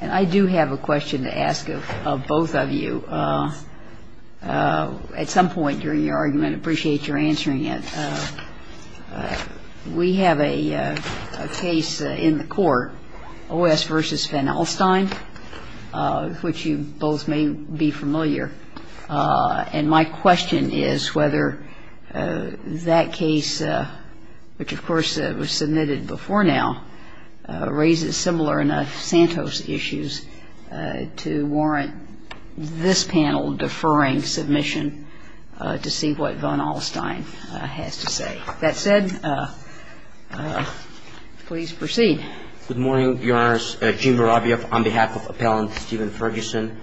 I do have a question to ask of both of you. At some point during your argument, I appreciate your answering it. We have a case in the court, O.S. v. Van Alstyne, which you both may be familiar. And my question is whether that case, which of course was submitted before now, raises similar enough Santos issues to warrant this panel deferring submission to see what Van Alstyne has to say. That said, please proceed. Good morning, Your Honors. Jim Vorovyev on behalf of Appellant Steven Ferguson.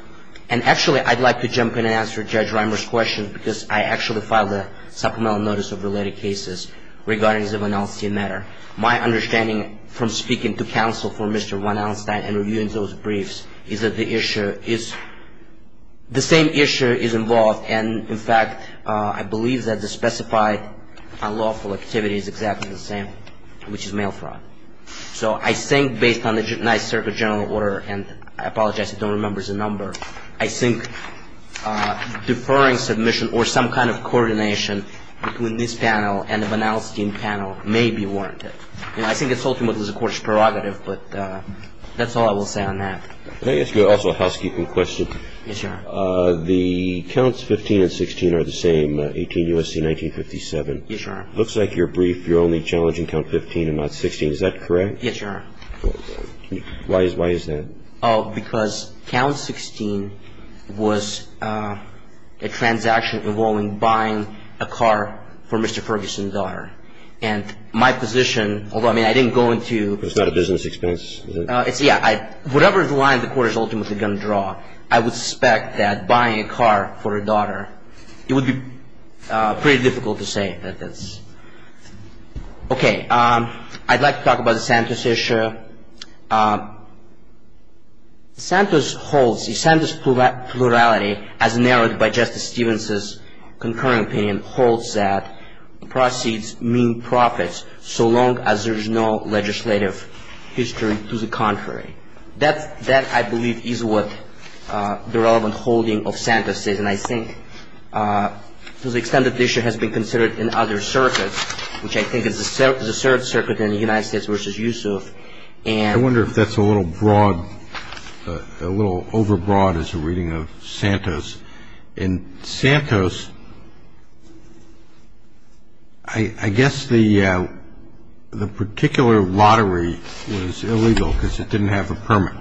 And actually, I'd like to jump in and answer Judge Reimer's question because I actually filed a supplemental notice of related cases regarding the Van Alstyne matter. My understanding from speaking to counsel for Mr. Van Alstyne and reviewing those briefs is that the issue is, the same issue is involved. And in fact, I believe that the specified unlawful activity is exactly the same, which is mail fraud. So I think based on the Nice Circuit General Order, and I apologize, I don't remember the number, I think deferring submission or some kind of coordination between this panel and the Van Alstyne panel may be warranted. I think it's ultimately the court's prerogative, but that's all I will say on that. Can I ask you also a housekeeping question? Yes, Your Honor. The counts 15 and 16 are the same, 18 U.S.C. 1957. Yes, Your Honor. Looks like your brief, you're only challenging count 15 and not 16. Is that correct? Yes, Your Honor. Why is that? Because count 16 was a transaction involving buying a car for Mr. Ferguson's daughter. And my position, although, I mean, I didn't go into. It's not a business expense? Yeah. Whatever the line the court is ultimately going to draw, I would suspect that buying a car for a daughter, it would be pretty difficult to say that that's. Okay. I'd like to talk about the Santos issue. Santos holds, the Santos plurality, as narrowed by Justice Stevens' concurring opinion, proceeds mean profits so long as there is no legislative history to the contrary. That, I believe, is what the relevant holding of Santos is. And I think to the extent that the issue has been considered in other circuits, which I think is the third circuit in the United States versus Yusuf. I wonder if that's a little broad, a little overbroad as a reading of Santos. In Santos, I guess the particular lottery was illegal because it didn't have a permit.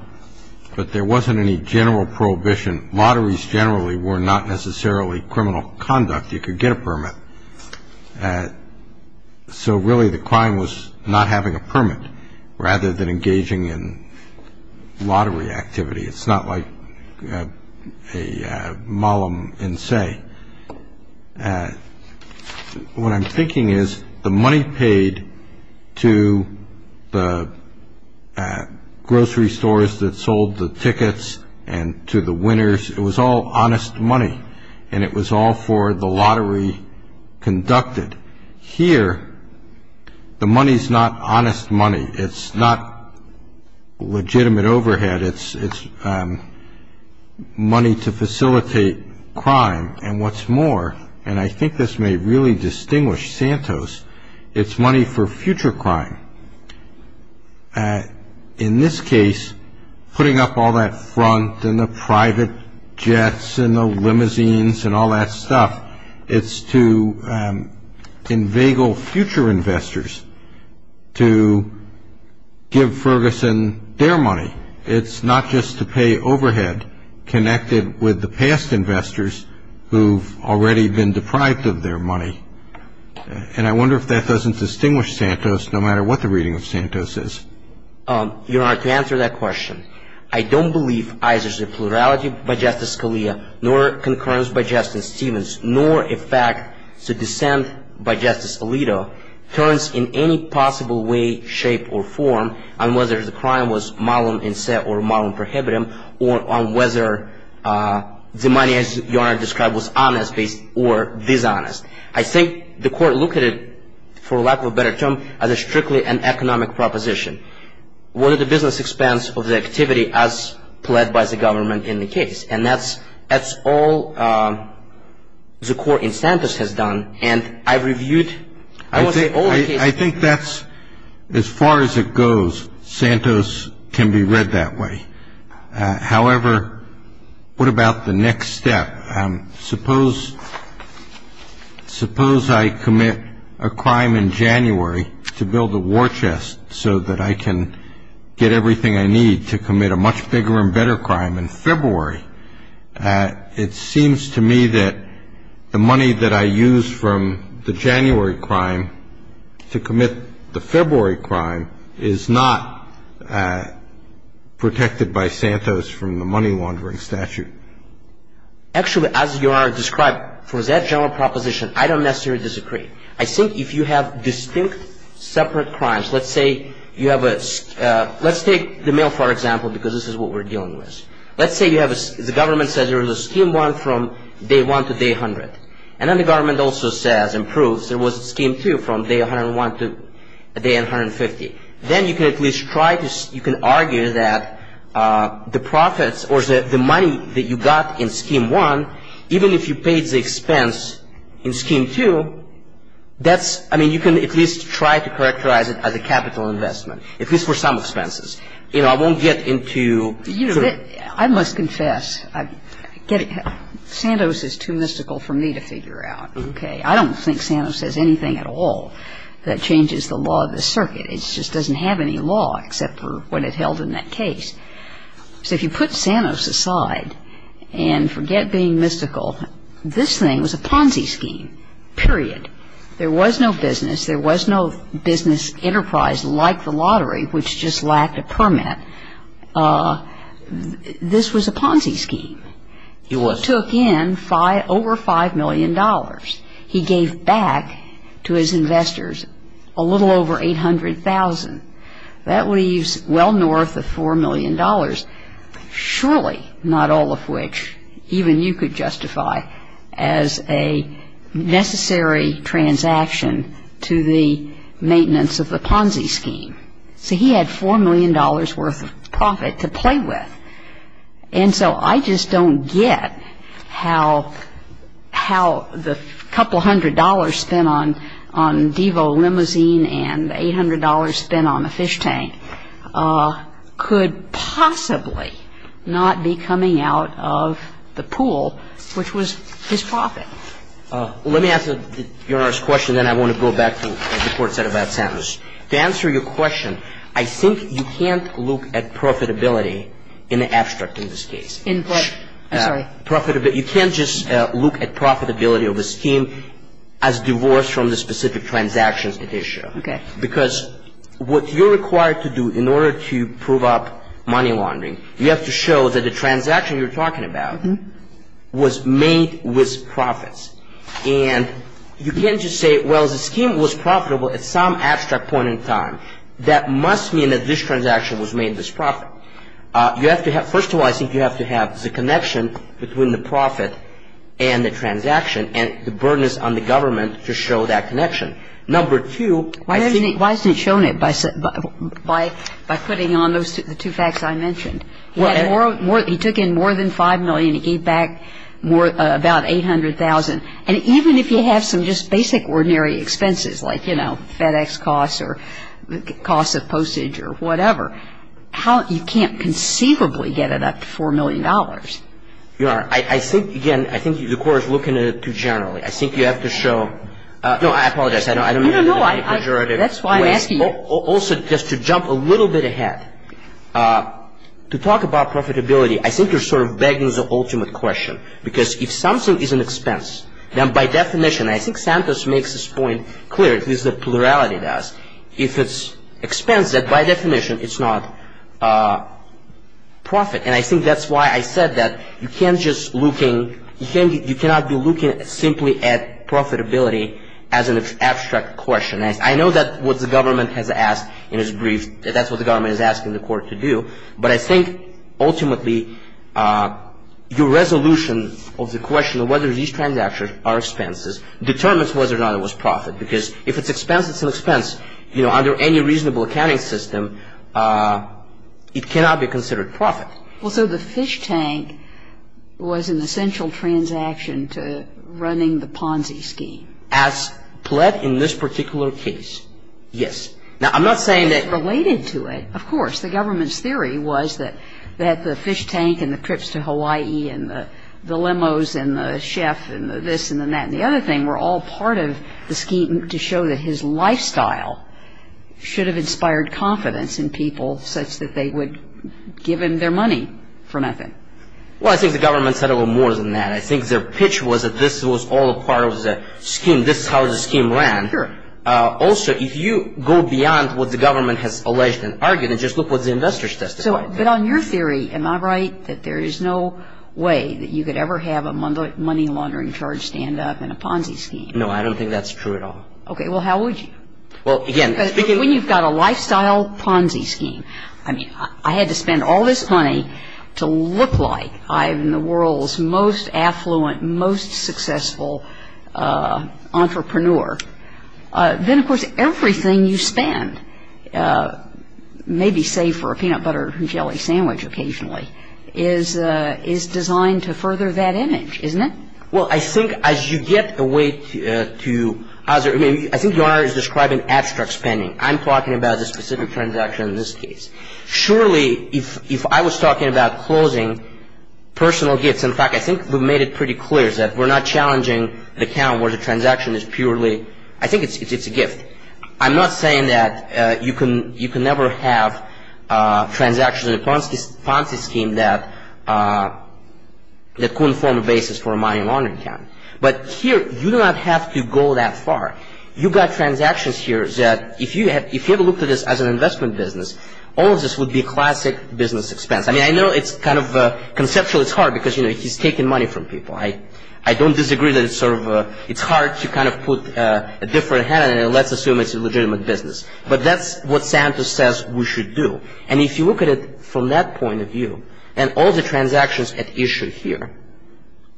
But there wasn't any general prohibition. Lotteries generally were not necessarily criminal conduct. You could get a permit. So really the crime was not having a permit rather than engaging in lottery activity. It's not like a mallum in se. What I'm thinking is the money paid to the grocery stores that sold the tickets and to the winners, it was all honest money, and it was all for the lottery conducted. Here, the money is not honest money. It's not legitimate overhead. It's money to facilitate crime. And what's more, and I think this may really distinguish Santos, it's money for future crime. In this case, putting up all that front and the private jets and the limousines and all that stuff, it's to inveigle future investors to give Ferguson their money. It's not just to pay overhead connected with the past investors who've already been deprived of their money. And I wonder if that doesn't distinguish Santos, no matter what the reading of Santos is. Your Honor, to answer that question, I don't believe either the plurality by Justice Scalia nor concurrence by Justice Stevens nor a fact to dissent by Justice Alito turns in any possible way, shape, or form on whether the crime was mallum in se or mallum prohibitum or on whether the money, as Your Honor described, was honest or dishonest. I think the Court looked at it, for lack of a better term, as strictly an economic proposition. What are the business expense of the activity as pled by the government in the case? And that's all the Court in Santos has done, and I've reviewed, I would say, all the cases. I think that's, as far as it goes, Santos can be read that way. However, what about the next step? Suppose I commit a crime in January to build a war chest so that I can get everything I need to commit a much bigger and better crime in February. It seems to me that the money that I use from the January crime to commit the February crime is not protected by Santos from the money laundering statute. Actually, as Your Honor described, for that general proposition, I don't necessarily disagree. I think if you have distinct separate crimes, let's say you have a — let's take the mail, for example, because this is what we're dealing with. Let's say you have a — the government says there is a Scheme 1 from day 1 to day 100. And then the government also says and proves there was a Scheme 2 from day 101 to day 150. Then you can at least try to — you can argue that the profits or the money that you got in Scheme 1, even if you paid the expense in Scheme 2, that's — I mean, you can at least try to characterize it as a capital investment, at least for some expenses. You know, I won't get into — I must confess, Santos is too mystical for me to figure out, okay? I don't think Santos says anything at all that changes the law of the circuit. It just doesn't have any law except for what it held in that case. So if you put Santos aside and forget being mystical, this thing was a Ponzi scheme, period. There was no business. There was no business enterprise like the lottery, which just lacked a permit. This was a Ponzi scheme. It took in over $5 million. He gave back to his investors a little over $800,000. That leaves well north of $4 million, surely not all of which even you could justify as a necessary transaction to the maintenance of the Ponzi scheme. So he had $4 million worth of profit to play with. And so I just don't get how the couple hundred dollars spent on Devo limousine and the $800 spent on the fish tank could possibly not be coming out of the pool, which was his profit. Let me answer Your Honor's question, then I want to go back to what the Court said about Santos. To answer your question, I think you can't look at profitability in the abstract in this case. In what? I'm sorry. Profitability. You can't just look at profitability of a scheme as divorced from the specific transactions at issue. Okay. Because what you're required to do in order to prove up money laundering, you have to show that the transaction you're talking about was made with profits. And you can't just say, well, the scheme was profitable at some abstract point in time. That must mean that this transaction was made with profit. First of all, I think you have to have the connection between the profit and the transaction, and the burden is on the government to show that connection. Number two, I think — Why hasn't he shown it by putting on the two facts I mentioned? He took in more than $5 million. He gave back about $800,000. And even if you have some just basic ordinary expenses, like, you know, FedEx costs or costs of postage or whatever, you can't conceivably get it up to $4 million. Your Honor, I think, again, I think the Court is looking at it too generally. I think you have to show — no, I apologize. I don't mean to be a pejorative. That's why I'm asking you. Also, just to jump a little bit ahead, to talk about profitability, I think you're sort of begging the ultimate question. Because if something is an expense, then by definition, and I think Santos makes this point clear, at least the plurality does, if it's expense, then by definition it's not profit. And I think that's why I said that you can't just looking — you cannot be looking simply at profitability as an abstract question. And I know that what the government has asked in its brief, that's what the government is asking the Court to do. But I think, ultimately, your resolution of the question of whether these transactions are expenses determines whether or not it was profit. Because if it's expense, it's an expense. You know, under any reasonable accounting system, it cannot be considered profit. Well, so the fish tank was an essential transaction to running the Ponzi scheme. As pled in this particular case. Yes. Now, I'm not saying that — Related to it. Of course. The government's theory was that the fish tank and the trips to Hawaii and the limos and the chef and the this and the that and the other thing were all part of the scheme to show that his lifestyle should have inspired confidence in people such that they would give him their money for nothing. Well, I think the government said a little more than that. I think their pitch was that this was all part of the scheme. This is how the scheme ran. Sure. Also, if you go beyond what the government has alleged and argued, just look what the investors testified. But on your theory, am I right that there is no way that you could ever have a money laundering charge stand up in a Ponzi scheme? No, I don't think that's true at all. Okay. Well, how would you? Well, again — When you've got a lifestyle Ponzi scheme, I mean, I had to spend all this money to look like I'm the world's most affluent, most successful entrepreneur. Then, of course, everything you spend, maybe save for a peanut butter and jelly sandwich occasionally, is designed to further that image, isn't it? Well, I think as you get away to — I think your Honor is describing abstract spending. I'm talking about the specific transaction in this case. Surely, if I was talking about closing personal gifts — in fact, I think we've made it pretty clear that we're not challenging the account where the transaction is purely — I think it's a gift. I'm not saying that you can never have transactions in a Ponzi scheme that couldn't form a basis for a money laundering account. But here, you do not have to go that far. You've got transactions here that, if you ever looked at this as an investment business, all of this would be classic business expense. I mean, I know it's kind of — conceptually, it's hard because, you know, he's taking money from people. I don't disagree that it's sort of — it's hard to kind of put a different hand and let's assume it's a legitimate business. But that's what Santos says we should do. And if you look at it from that point of view, and all the transactions at issue here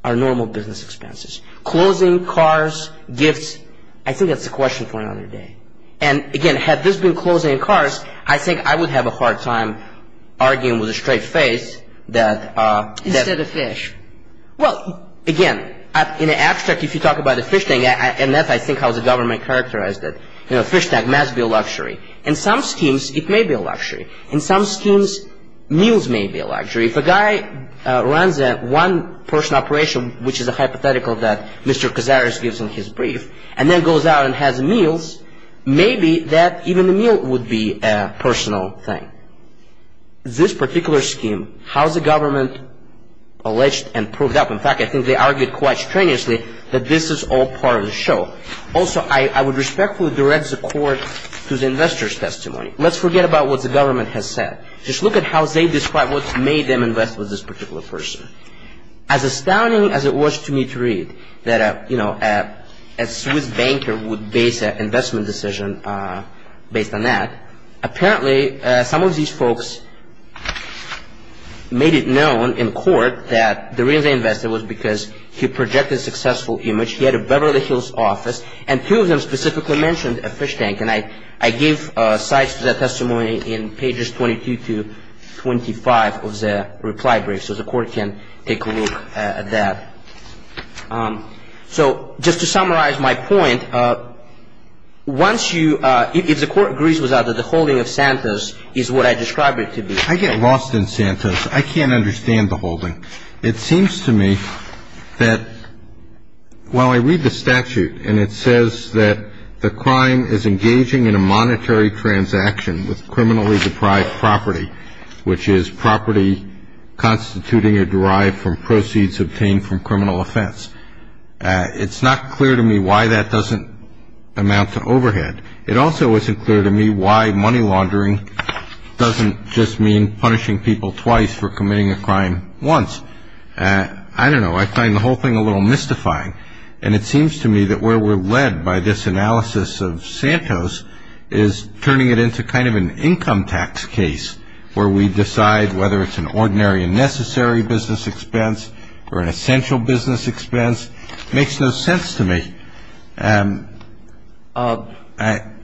are normal business expenses. Closing cars, gifts, I think that's a question for another day. And again, had this been closing cars, I think I would have a hard time arguing with a straight face that — again, in abstract, if you talk about a fish tank, and that's, I think, how the government characterized it, you know, a fish tank must be a luxury. In some schemes, it may be a luxury. In some schemes, meals may be a luxury. If a guy runs a one-person operation, which is a hypothetical that Mr. Cazares gives in his brief, and then goes out and has meals, maybe that even a meal would be a personal thing. This particular scheme, how the government alleged and proved up — in fact, I think they argued quite strenuously that this is all part of the show. Also, I would respectfully direct the court to the investor's testimony. Let's forget about what the government has said. Just look at how they describe what made them invest with this particular person. As astounding as it was to me to read that, you know, a Swiss banker would base an investment decision based on that, apparently some of these folks made it known in court that the reason they invested was because he projected a successful image, he had a Beverly Hills office, and two of them specifically mentioned a fish tank. And I gave sites for that testimony in pages 22 to 25 of the reply brief, so the court can take a look at that. So just to summarize my point, once you — if the court agrees with that, that the holding of Santos is what I described it to be. I get lost in Santos. I can't understand the holding. It seems to me that while I read the statute, and it says that the crime is engaging in a monetary transaction with criminally deprived property, which is property constituting or derived from proceeds obtained from criminal offense, it's not clear to me why that doesn't amount to overhead. It also isn't clear to me why money laundering doesn't just mean punishing people twice for committing a crime once. I don't know. I find the whole thing a little mystifying. And it seems to me that where we're led by this analysis of Santos is turning it into kind of an income tax case where we decide whether it's an ordinary and necessary business expense or an essential business expense. It makes no sense to me. I'm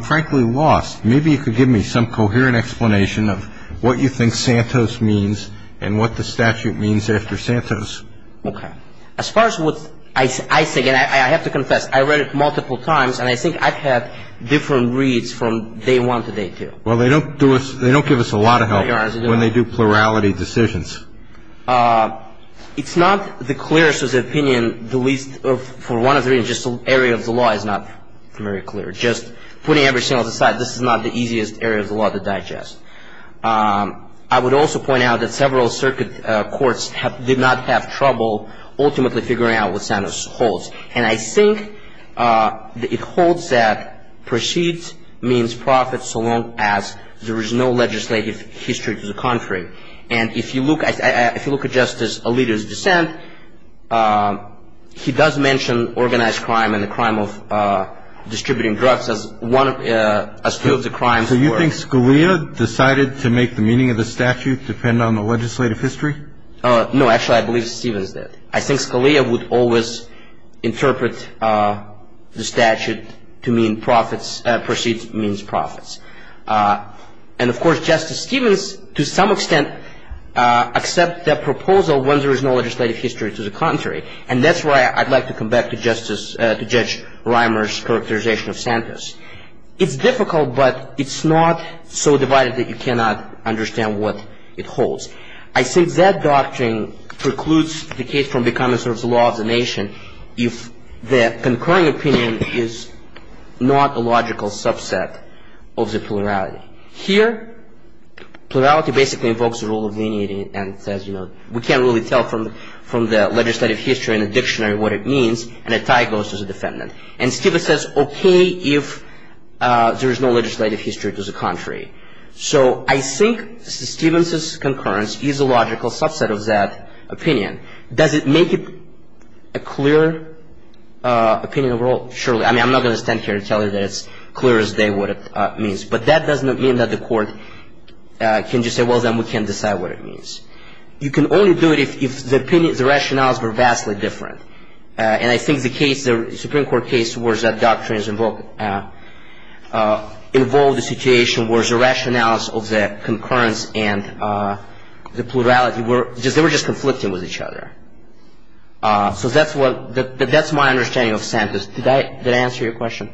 frankly lost. Maybe you could give me some coherent explanation of what you think Santos means and what the statute means after Santos. Okay. As far as what I think, and I have to confess, I read it multiple times, and I think I've had different reads from day one to day two. Well, they don't give us a lot of help when they do plurality decisions. It's not the clearest of opinions. For one of the reasons, just the area of the law is not very clear. Just putting everything else aside, this is not the easiest area of the law to digest. I would also point out that several circuit courts did not have trouble ultimately figuring out what Santos holds. And I think it holds that proceeds means profits so long as there is no legislative history to the contrary. And if you look at Justice Alito's dissent, he does mention organized crime and the crime of distributing drugs as two of the crimes. So you think Scalia decided to make the meaning of the statute depend on the legislative history? No. Actually, I believe Stevens did. I think Scalia would always interpret the statute to mean proceeds means profits. And, of course, Justice Stevens, to some extent, accepts that proposal when there is no legislative history to the contrary. And that's why I'd like to come back to Judge Reimer's characterization of Santos. It's difficult, but it's not so divided that you cannot understand what it holds. I think that doctrine precludes the case from becoming sort of the law of the nation if the concurring opinion is not a logical subset of the plurality. Here, plurality basically invokes the rule of leniency and says, you know, we can't really tell from the legislative history and the dictionary what it means, and a tie goes to the defendant. And Stevens says, okay, if there is no legislative history to the contrary. So I think Stevens's concurrence is a logical subset of that opinion. Does it make it a clear opinion overall? Surely. I mean, I'm not going to stand here and tell you that it's clear as day what it means. But that does not mean that the court can just say, well, then we can't decide what it means. You can only do it if the opinion, the rationales were vastly different. And I think the case, the Supreme Court case, was that doctrines involved a situation where the rationales of the concurrence and the plurality were just conflicting with each other. So that's what, that's my understanding of Santos. Did I answer your question?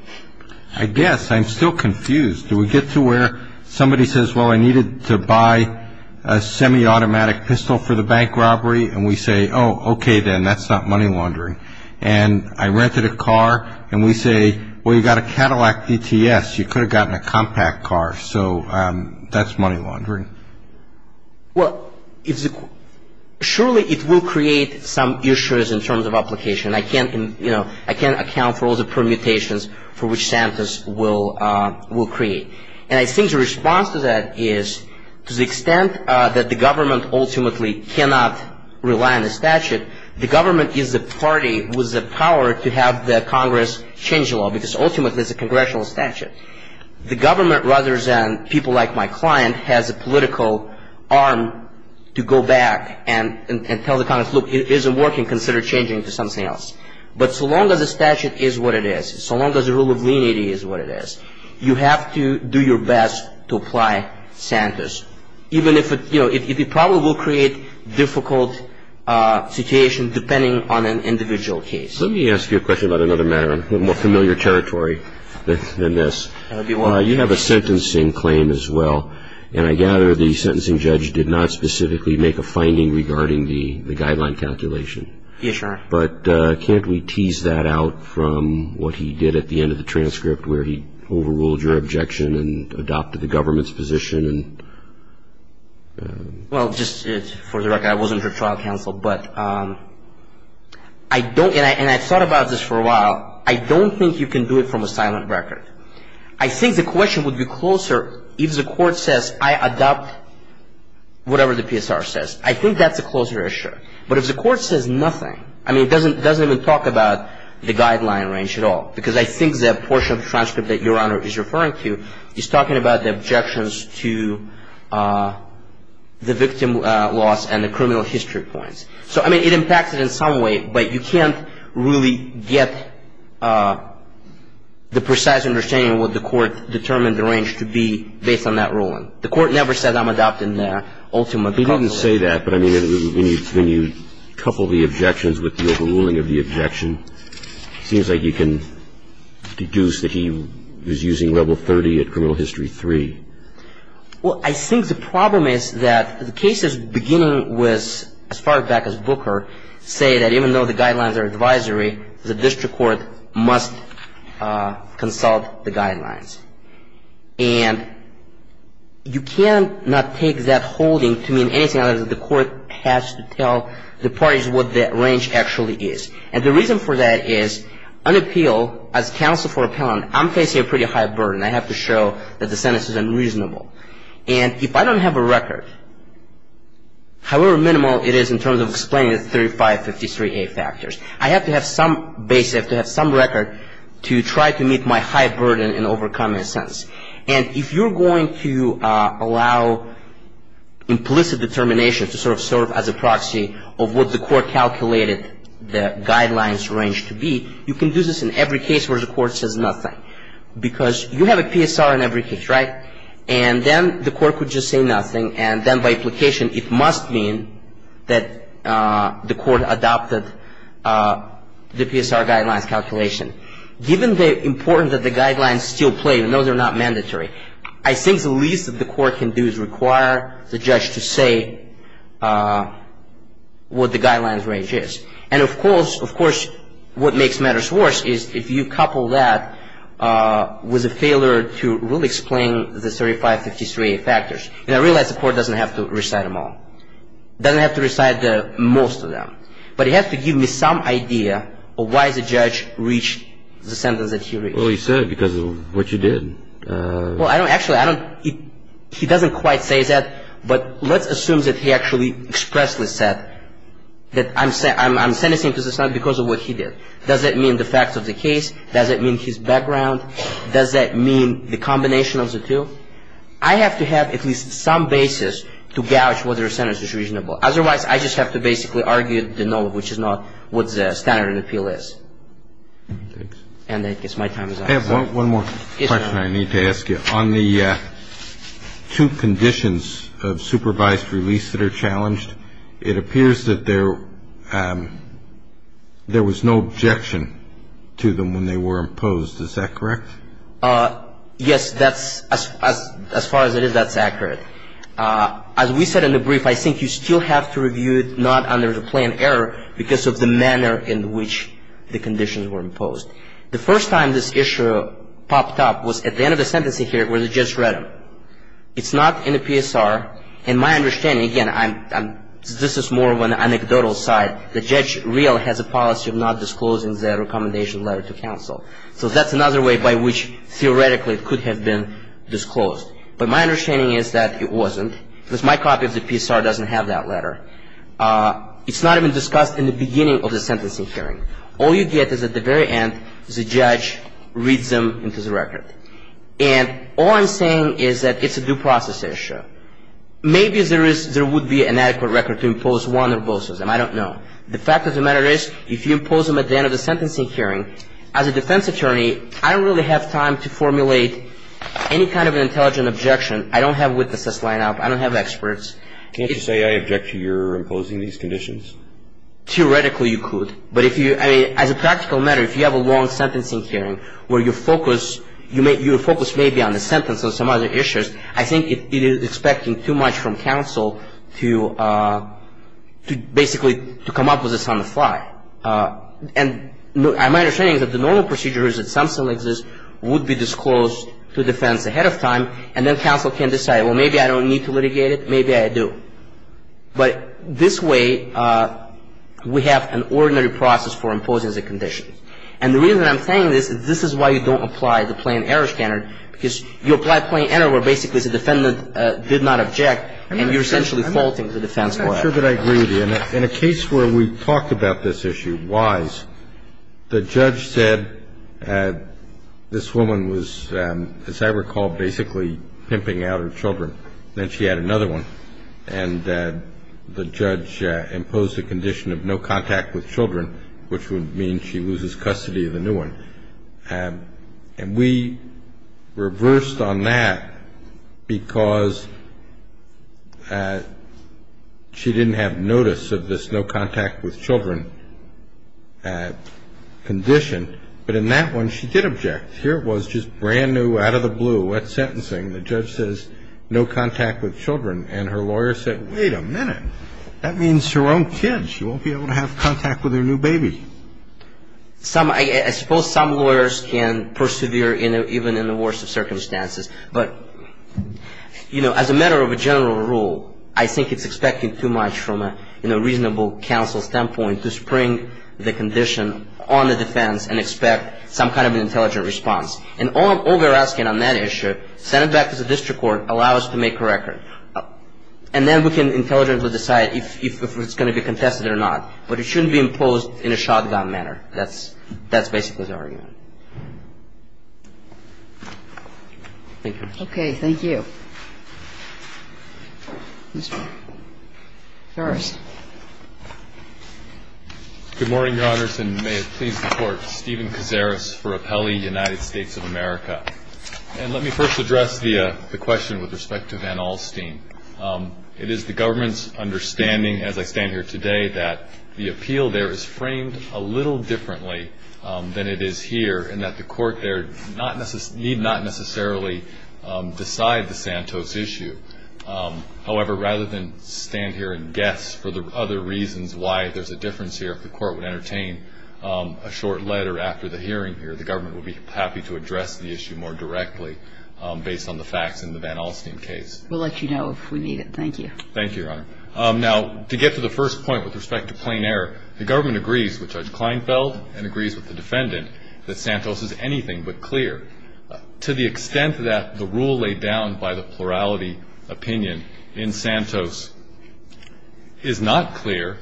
I guess. I'm still confused. Do we get to where somebody says, well, I needed to buy a semi-automatic pistol for the bank robbery, and we say, oh, okay then, that's not money laundering. And I rented a car, and we say, well, you got a Cadillac DTS. You could have gotten a compact car. So that's money laundering. Well, surely it will create some issues in terms of application. I can't, you know, I can't account for all the permutations for which Santos will create. And I think the response to that is to the extent that the government ultimately cannot rely on the statute, the government is the party with the power to have the Congress change the law, because ultimately it's a congressional statute. The government, rather than people like my client, has a political arm to go back and tell the Congress, look, it isn't working, consider changing to something else. But so long as the statute is what it is, so long as the rule of lenity is what it is, you have to do your best to apply Santos, even if it, you know, it probably will create difficult situation depending on an individual case. Let me ask you a question about another matter, a little more familiar territory than this. You have a sentencing claim as well, and I gather the sentencing judge did not specifically make a finding regarding the guideline calculation. Yes, Your Honor. But can't we tease that out from what he did at the end of the transcript where he overruled your objection and adopted the government's position? Well, just for the record, I wasn't her trial counsel, but I don't, and I thought about this for a while, I don't think you can do it from a silent record. I think the question would be closer if the court says I adopt whatever the PSR says. I think that's a closer issue. But if the court says nothing, I mean, it doesn't even talk about the guideline range at all, because I think that portion of the transcript that Your Honor is referring to is talking about the objections to the victim loss and the criminal history points. So, I mean, it impacts it in some way, but you can't really get the precise understanding of what the court determined the range to be based on that ruling. The court never said I'm adopting the ultimate. He didn't say that, but I mean, when you couple the objections with the overruling of the objection, it seems like you can deduce that he was using level 30 at criminal history 3. Well, I think the problem is that the cases beginning with as far back as Booker say that even though the guidelines are advisory, the district court must consult the guidelines. And you cannot take that holding to mean anything other than the court has to tell the parties what that range actually is. And the reason for that is on appeal, as counsel for appellant, I'm facing a pretty high burden. I have to show that the sentence is unreasonable. And if I don't have a record, however minimal it is in terms of explaining the 3553A factors, I have to have some basis, I have to have some record to try to meet my high burden in overcoming a sentence. And if you're going to allow implicit determination to sort of serve as a proxy of what the court calculated the guidelines range to be, you can do this in every case where the court says nothing. Because you have a PSR in every case, right? And then the court could just say nothing. And then by implication it must mean that the court adopted the PSR guidelines calculation. Given the importance that the guidelines still play, even though they're not mandatory, I think the least that the court can do is require the judge to say what the guidelines range is. And of course what makes matters worse is if you couple that with a failure to really explain the 3553A factors. And I realize the court doesn't have to recite them all. It doesn't have to recite most of them. But it has to give me some idea of why the judge reached the sentence that he reached. Well, he said because of what you did. Well, I don't actually, I don't, he doesn't quite say that. But let's assume that he actually expressly said that I'm sentencing because it's not because of what he did. Does that mean the facts of the case? Does that mean his background? Does that mean the combination of the two? I have to have at least some basis to gouge whether a sentence is reasonable. Otherwise I just have to basically argue the null, which is not what the standard of appeal is. And I guess my time is up. I have one more question I need to ask you. On the two conditions of supervised release that are challenged, it appears that there was no objection to them when they were imposed. Is that correct? Yes, that's, as far as it is, that's accurate. As we said in the brief, I think you still have to review it not under the plain error because of the manner in which the conditions were imposed. The first time this issue popped up was at the end of the sentencing hearing where the judge read them. It's not in the PSR. In my understanding, again, I'm, this is more of an anecdotal side. The judge real has a policy of not disclosing the recommendation letter to counsel. So that's another way by which theoretically it could have been disclosed. But my understanding is that it wasn't because my copy of the PSR doesn't have that letter. It's not even discussed in the beginning of the sentencing hearing. All you get is at the very end the judge reads them into the record. And all I'm saying is that it's a due process issue. Maybe there is, there would be an adequate record to impose one or both of them. I don't know. The fact of the matter is if you impose them at the end of the sentencing hearing, as a defense attorney, I don't really have time to formulate any kind of an intelligent objection. I don't have witnesses lined up. I don't have experts. Can't you say I object to your imposing these conditions? Theoretically you could. But if you, I mean, as a practical matter, if you have a long sentencing hearing where your focus may be on the sentence or some other issues, I think it is expecting too much from counsel to basically to come up with this on the fly. And my understanding is that the normal procedure is that something like this would be disclosed to defense ahead of time, and then counsel can decide, well, maybe I don't need to litigate it, maybe I do. But this way we have an ordinary process for imposing the conditions. And the reason I'm saying this is this is why you don't apply the plain error standard, because you apply plain error where basically the defendant did not object and you're essentially faulting the defense for that. I'm not sure that I agree with you. In a case where we talked about this issue, Wise, the judge said this woman was, as I recall, basically pimping out her children. Then she had another one. And the judge imposed a condition of no contact with children, which would mean she loses custody of the new one. And we reversed on that because she didn't have notice of this no contact with children condition. But in that one she did object. Here it was just brand new, out of the blue, wet sentencing. The judge says no contact with children. And her lawyer said, wait a minute. That means her own kids. She won't be able to have contact with her new baby. I suppose some lawyers can persevere even in the worst of circumstances. But, you know, as a matter of a general rule, I think it's expecting too much from a, you know, reasonable counsel standpoint to spring the condition on the defense and expect some kind of an intelligent response. And all we're asking on that issue, send it back to the district court, allow us to make a record. And then we can intelligently decide if it's going to be contested or not. But it shouldn't be imposed in a shotgun manner. That's basically the argument. Thank you. Thank you. Mr. Farris. Good morning, Your Honors. And may it please the Court, Stephen Kazaris for Appellee United States of America. And let me first address the question with respect to Van Alstyne. It is the government's understanding, as I stand here today, that the appeal there is framed a little differently than it is here, and that the Court there need not necessarily decide the Santos issue. However, rather than stand here and guess for the other reasons why there's a difference here, if the Court would entertain a short letter after the hearing here, the government would be happy to address the issue more directly based on the facts in the Van Alstyne case. We'll let you know if we need it. Thank you. Thank you, Your Honor. Now, to get to the first point with respect to plain error, the government agrees with Judge Kleinfeld and agrees with the defendant that Santos is anything but clear. To the extent that the rule laid down by the plurality opinion in Santos is not clear,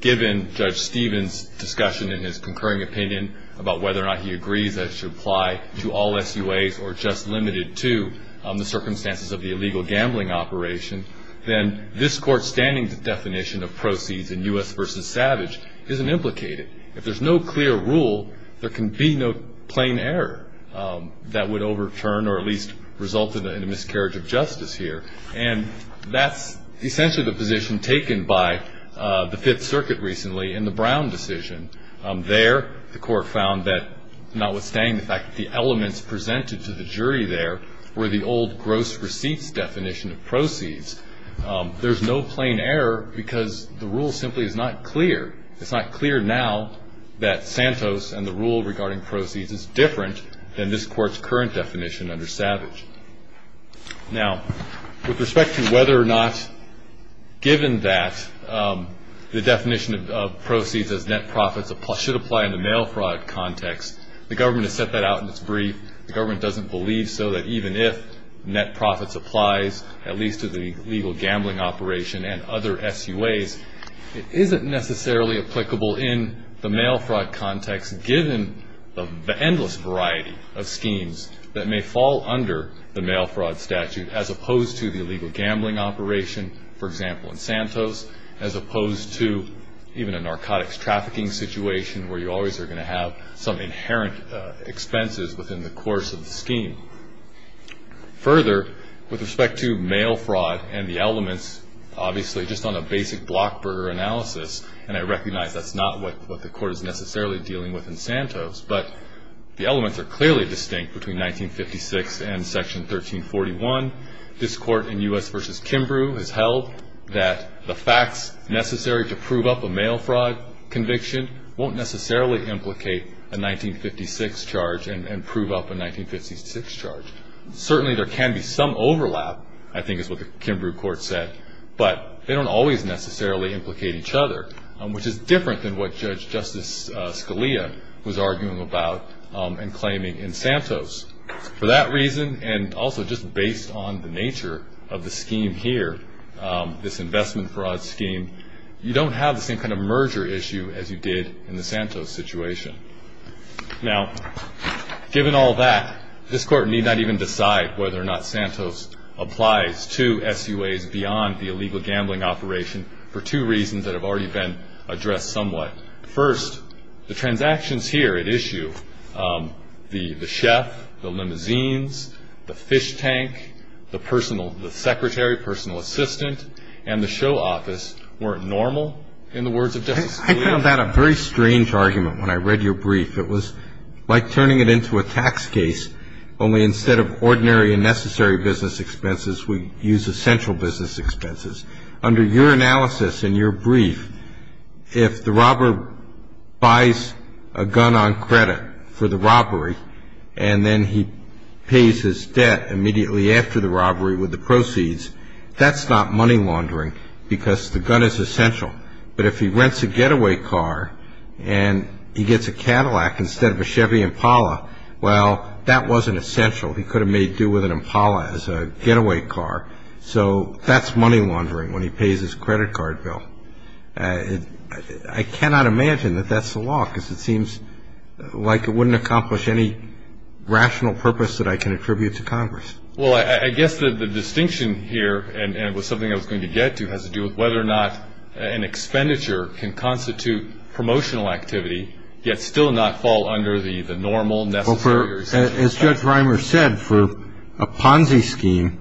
given Judge Stephen's discussion in his concurring opinion about whether or not he agrees that it should apply to all SUAs or just limited to the circumstances of the illegal gambling operation, then this Court's standing definition of proceeds in U.S. v. Savage isn't implicated. If there's no clear rule, there can be no plain error that would overturn or at least result in a miscarriage of justice here. And that's essentially the position taken by the Fifth Circuit recently in the Brown decision. There, the Court found that notwithstanding the fact that the elements presented to the jury there were the old gross receipts definition of proceeds, there's no plain error because the rule simply is not clear. It's not clear now that Santos and the rule regarding proceeds is different than this Court's current definition under Savage. Now, with respect to whether or not given that the definition of proceeds as net profits should apply in the mail fraud context, the government has set that out in its brief. The government doesn't believe so that even if net profits applies, at least to the illegal gambling operation and other SUAs, it isn't necessarily applicable in the mail fraud context given the endless variety of schemes that may fall under the mail fraud statute as opposed to the illegal gambling operation, for example, in Santos, as opposed to even a narcotics trafficking situation where you always are going to have some inherent expenses within the course of the scheme. Further, with respect to mail fraud and the elements, obviously just on a basic blockburger analysis, and I recognize that's not what the Court is necessarily dealing with in Santos, but the elements are clearly distinct between 1956 and Section 1341. This Court in U.S. v. Kimbrough has held that the facts necessary to prove up a mail fraud conviction won't necessarily implicate a 1956 charge and prove up a 1956 charge. Certainly there can be some overlap, I think is what the Kimbrough Court said, but they don't always necessarily implicate each other, which is different than what Judge Justice Scalia was arguing about and claiming in Santos. For that reason, and also just based on the nature of the scheme here, this investment fraud scheme, you don't have the same kind of merger issue as you did in the Santos situation. Now, given all that, this Court need not even decide whether or not Santos applies to SUAs beyond the illegal gambling operation for two reasons that have already been addressed somewhat. First, the transactions here at issue, the chef, the limousines, the fish tank, the secretary, personal assistant, and the show office weren't normal in the words of Justice Scalia. I found that a very strange argument when I read your brief. It was like turning it into a tax case, only instead of ordinary and necessary business expenses, we use essential business expenses. Under your analysis in your brief, if the robber buys a gun on credit for the robbery and then he pays his debt immediately after the robbery with the proceeds, that's not money laundering because the gun is essential. But if he rents a getaway car and he gets a Cadillac instead of a Chevy Impala, well, that wasn't essential. He could have made do with an Impala as a getaway car. So that's money laundering when he pays his credit card bill. I cannot imagine that that's the law, because it seems like it wouldn't accomplish any rational purpose that I can attribute to Congress. Well, I guess the distinction here, and it was something I was going to get to, has to do with whether or not an expenditure can constitute promotional activity, yet still not fall under the normal, necessary. As Judge Reimer said, for a Ponzi scheme,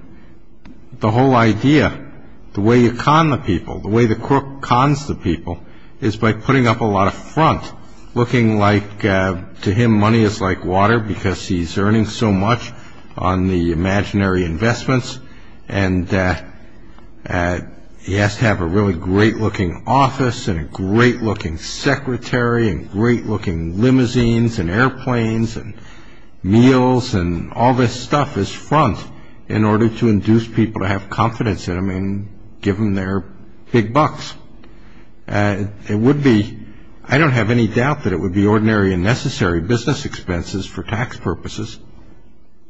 the whole idea, the way you con the people, the way the crook cons the people is by putting up a lot of front, looking like to him money is like water because he's earning so much on the imaginary investments, and he has to have a really great-looking office and a great-looking secretary and great-looking limousines and airplanes and meals, and all this stuff is front in order to induce people to have confidence in him and give him their big bucks. I don't have any doubt that it would be ordinary and necessary business expenses for tax purposes.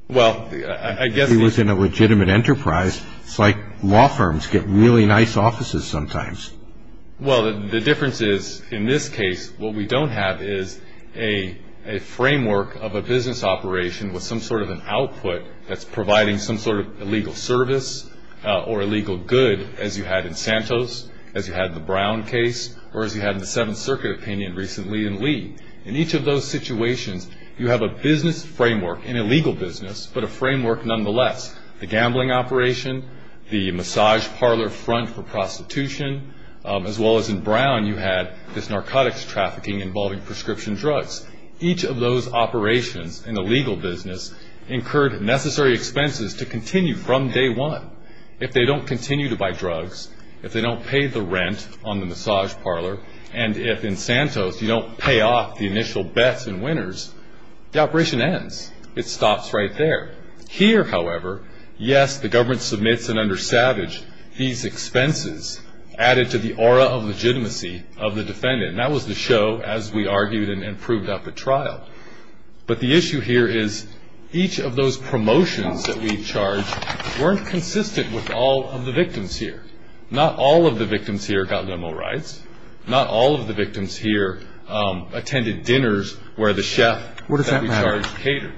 Well, I guess... If he was in a legitimate enterprise, it's like law firms get really nice offices sometimes. Well, the difference is, in this case, what we don't have is a framework of a business operation with some sort of an output that's providing some sort of illegal service or illegal good, as you had in Santos, as you had in the Brown case, or as you had in the Seventh Circuit opinion recently in Lee. In each of those situations, you have a business framework, an illegal business, but a framework nonetheless. The gambling operation, the massage parlor front for prostitution, as well as in Brown, you had this narcotics trafficking involving prescription drugs. Each of those operations in the legal business incurred necessary expenses to continue from day one. If they don't continue to buy drugs, if they don't pay the rent on the massage parlor, and if in Santos you don't pay off the initial bets and winners, the operation ends. It stops right there. Here, however, yes, the government submits and under Savage, these expenses added to the aura of legitimacy of the defendant. And that was the show, as we argued and proved at the trial. But the issue here is each of those promotions that we charge weren't consistent with all of the victims here. Not all of the victims here got limo rides. Not all of the victims here attended dinners where the chef that we charged catered.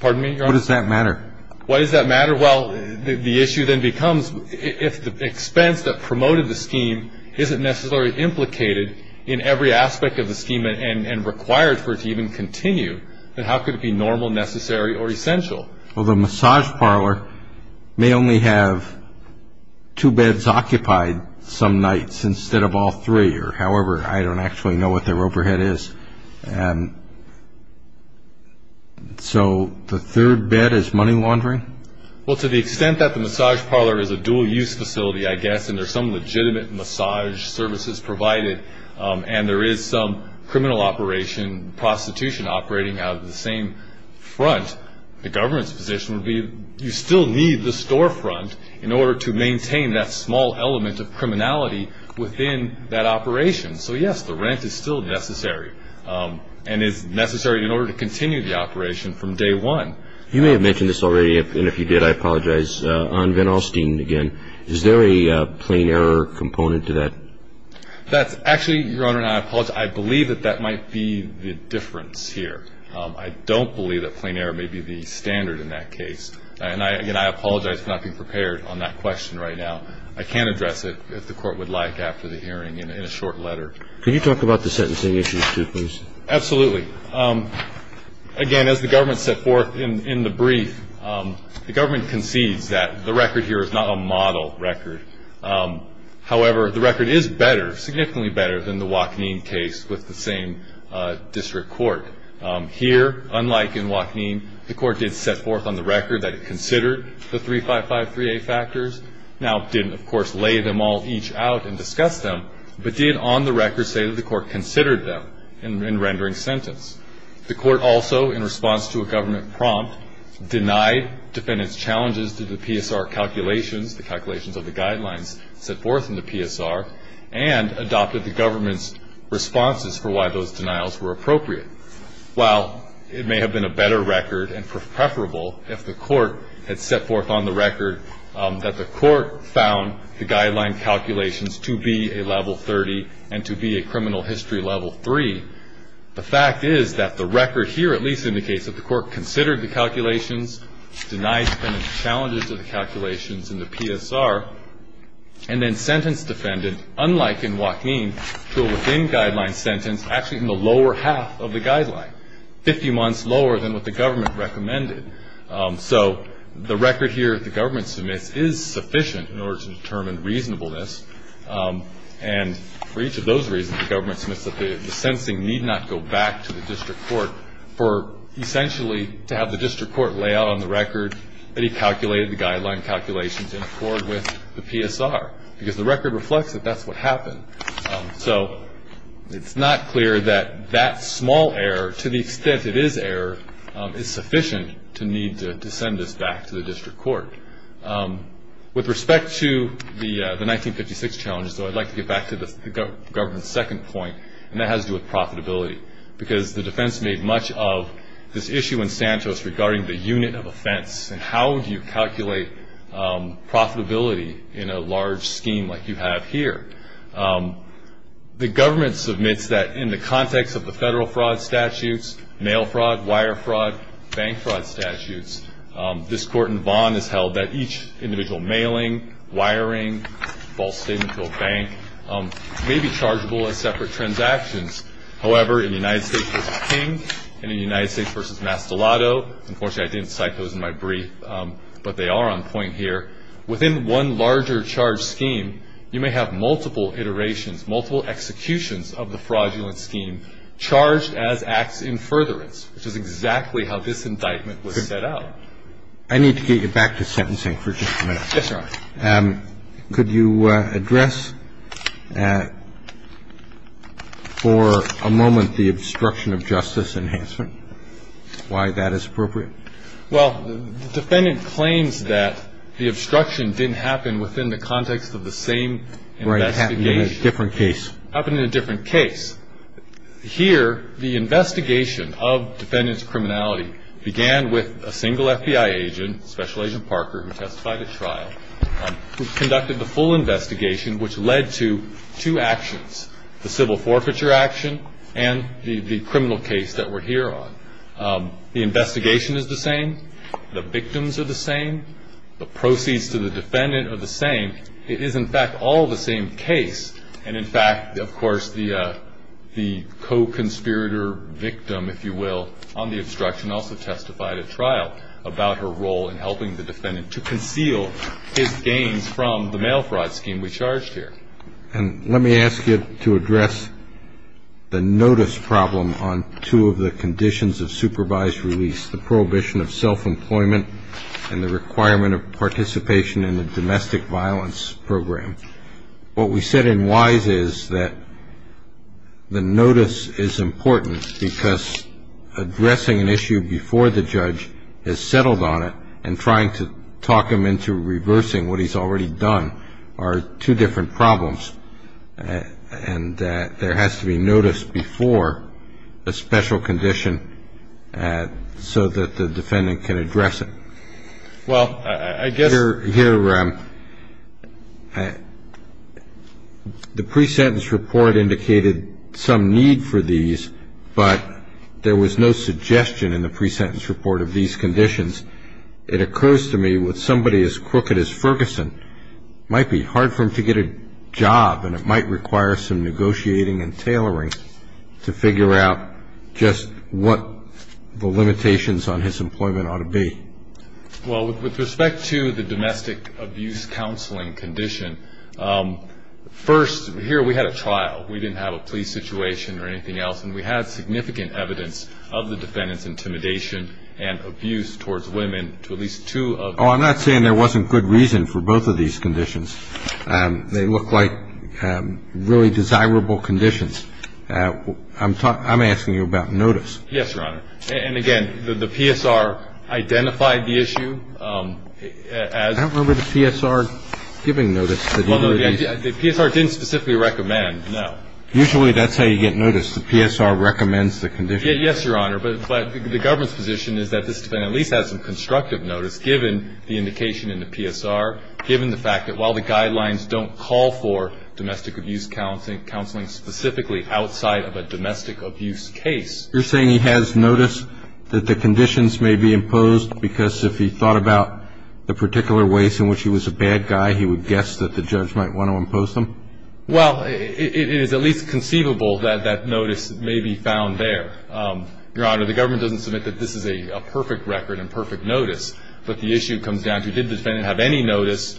What does that matter? Pardon me, Your Honor? What does that matter? Why does that matter? Well, the issue then becomes if the expense that promoted the scheme isn't necessarily implicated in every aspect of the scheme and required for it to even continue, then how could it be normal, necessary, or essential? Well, the massage parlor may only have two beds occupied some nights instead of all three. However, I don't actually know what their overhead is. And so the third bed is money laundering? Well, to the extent that the massage parlor is a dual-use facility, I guess, and there's some legitimate massage services provided and there is some criminal operation, prostitution operating out of the same front, the government's position would be you still need the storefront in order to maintain that small element of criminality within that operation. So, yes, the rent is still necessary and is necessary in order to continue the operation from day one. You may have mentioned this already, and if you did, I apologize, on Van Alstine again. Is there a plain error component to that? Actually, Your Honor, I believe that that might be the difference here. I don't believe that plain error may be the standard in that case. And I apologize for not being prepared on that question right now. I can address it, if the Court would like, after the hearing in a short letter. Could you talk about the sentencing issues too, please? Absolutely. Again, as the government set forth in the brief, the government concedes that the record here is not a model record. However, the record is better, significantly better, than the Wachneen case with the same district court. Here, unlike in Wachneen, the Court did set forth on the record that it considered the 3553A factors. Now, it didn't, of course, lay them all each out and discuss them, but did on the record say that the Court considered them in rendering sentence. The Court also, in response to a government prompt, denied defendants' challenges to the PSR calculations, the calculations of the guidelines set forth in the PSR, and adopted the government's responses for why those denials were appropriate. While it may have been a better record and preferable if the Court had set forth on the record that the Court found the guideline calculations to be a level 30 and to be a criminal history level 3, the fact is that the record here at least indicates that the Court considered the calculations, denied defendants' challenges to the calculations in the PSR, and then sentenced defendants, unlike in Wachneen, to a within-guideline sentence actually in the lower half of the guideline, 50 months lower than what the government recommended. So the record here that the government submits is sufficient in order to determine reasonableness, and for each of those reasons the government submits that the sentencing need not go back to the district court for essentially to have the district court lay out on the record that he calculated the guideline calculations in accord with the PSR, because the record reflects that that's what happened. So it's not clear that that small error, to the extent it is error, is sufficient to need to send this back to the district court. With respect to the 1956 challenge, though, I'd like to get back to the government's second point, and that has to do with profitability, because the defense made much of this issue in Santos regarding the unit of offense and how do you calculate profitability in a large scheme like you have here. The government submits that in the context of the federal fraud statutes, mail fraud, wire fraud, bank fraud statutes, this court and bond is held that each individual mailing, wiring, false statement to a bank may be chargeable as separate transactions. However, in the United States v. King and in the United States v. Mastellato, unfortunately I didn't cite those in my brief, but they are on point here. Within one larger charge scheme, you may have multiple iterations, multiple executions of the fraudulent scheme charged as acts in furtherance, which is exactly how this indictment was set out. I need to get you back to sentencing for just a minute. Yes, Your Honor. Could you address for a moment the obstruction of justice enhancement, why that is appropriate? Well, the defendant claims that the obstruction didn't happen within the context of the same investigation. Right, it happened in a different case. It happened in a different case. Here, the investigation of defendant's criminality began with a single FBI agent, Special Agent Parker, who testified at trial, who conducted the full investigation, which led to two actions, the civil forfeiture action and the criminal case that we're here on. The investigation is the same. The victims are the same. The proceeds to the defendant are the same. It is, in fact, all the same case. And, in fact, of course, the co-conspirator victim, if you will, on the obstruction also testified at trial about her role in helping the defendant to conceal his gains from the mail fraud scheme we charged here. And let me ask you to address the notice problem on two of the conditions of supervised release, the prohibition of self-employment and the requirement of participation in a domestic violence program. What we said in Wise is that the notice is important because addressing an issue before the judge has settled on it and trying to talk him into reversing what he's already done are two different problems, and that there has to be notice before a special condition so that the defendant can address it. Well, I guess... Here, the pre-sentence report indicated some need for these, but there was no suggestion in the pre-sentence report of these conditions. It occurs to me with somebody as crooked as Ferguson, it might be hard for him to get a job and it might require some negotiating and tailoring to figure out just what the limitations on his employment ought to be. Well, with respect to the domestic abuse counseling condition, first, here we had a trial. We didn't have a police situation or anything else, and we had significant evidence of the defendant's intimidation and abuse towards women to at least two of the defendants. I'm not saying there wasn't good reason for both of these conditions. They look like really desirable conditions. I'm asking you about notice. Yes, Your Honor. And again, the PSR identified the issue as... I don't remember the PSR giving notice. The PSR didn't specifically recommend, no. Usually that's how you get notice. The PSR recommends the condition. Yes, Your Honor, but the government's position is that this defendant at least has some constructive notice given the indication in the PSR, given the fact that while the guidelines don't call for domestic abuse counseling specifically outside of a domestic abuse case. You're saying he has notice that the conditions may be imposed because if he thought about the particular ways in which he was a bad guy, he would guess that the judge might want to impose them? Well, it is at least conceivable that that notice may be found there. Your Honor, the government doesn't submit that this is a perfect record and perfect notice. But the issue comes down to did the defendant have any notice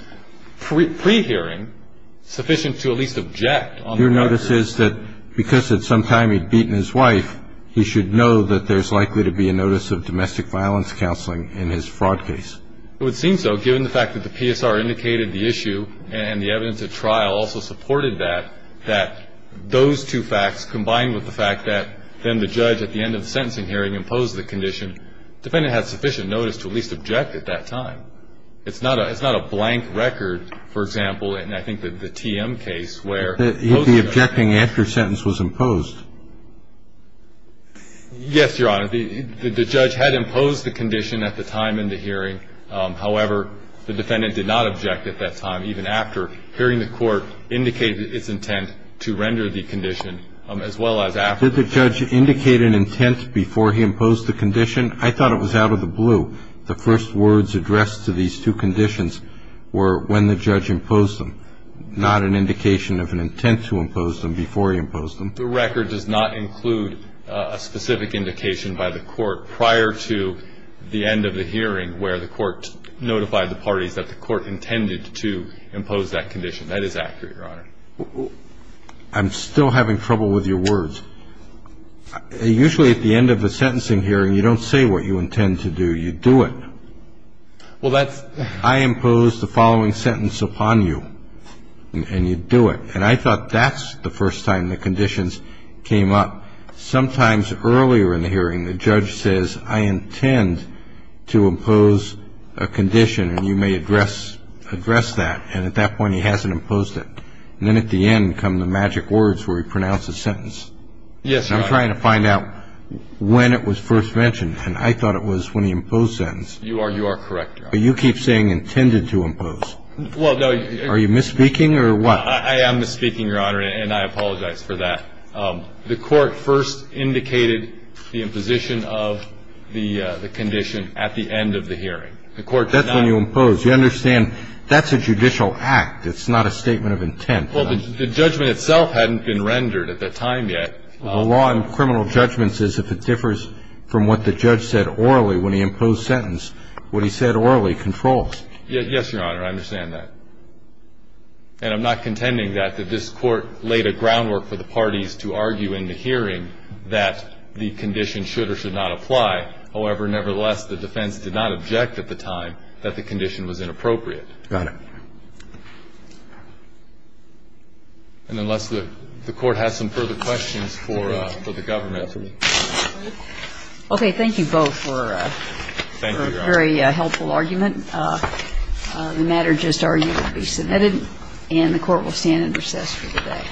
pre-hearing sufficient to at least object on the record? Your notice is that because at some time he'd beaten his wife, he should know that there's likely to be a notice of domestic violence counseling in his fraud case. It would seem so given the fact that the PSR indicated the issue and the evidence at trial also supported that, that those two facts, combined with the fact that then the judge at the end of the sentencing hearing imposed the condition, the defendant had sufficient notice to at least object at that time. It's not a blank record, for example, in I think the TM case where both of them He'd be objecting after sentence was imposed. Yes, Your Honor. The judge had imposed the condition at the time in the hearing. However, the defendant did not object at that time, even after hearing the court indicate its intent to render the condition, as well as after. Did the judge indicate an intent before he imposed the condition? I thought it was out of the blue. The first words addressed to these two conditions were when the judge imposed them, not an indication of an intent to impose them before he imposed them. The record does not include a specific indication by the court prior to the end of the hearing where the court notified the parties that the court intended to impose that condition. That is accurate, Your Honor. I'm still having trouble with your words. Usually at the end of the sentencing hearing, you don't say what you intend to do. You do it. Well, that's I impose the following sentence upon you, and you do it. And I thought that's the first time the conditions came up. Sometimes earlier in the hearing, the judge says, I intend to impose a condition, and you may address that. And at that point, he hasn't imposed it. And then at the end come the magic words where he pronounces the sentence. Yes, Your Honor. I'm trying to find out when it was first mentioned, and I thought it was when he imposed the sentence. You are correct, Your Honor. But you keep saying intended to impose. Well, no. Are you misspeaking or what? I am misspeaking, Your Honor, and I apologize for that. The court first indicated the imposition of the condition at the end of the hearing. The court did not That's when you impose. You understand that's a judicial act. It's not a statement of intent. Well, the judgment itself hadn't been rendered at that time yet. The law in criminal judgments says if it differs from what the judge said orally when he imposed sentence, what he said orally controls. Yes, Your Honor. I understand that. And I'm not contending that this Court laid a groundwork for the parties to argue in the hearing that the condition should or should not apply. However, nevertheless, the defense did not object at the time that the condition was inappropriate. Got it. And unless the Court has some further questions for the government. Okay. Thank you both for a very helpful argument. The matter just argued will be submitted, and the Court will stand in recess for the day. Thank you.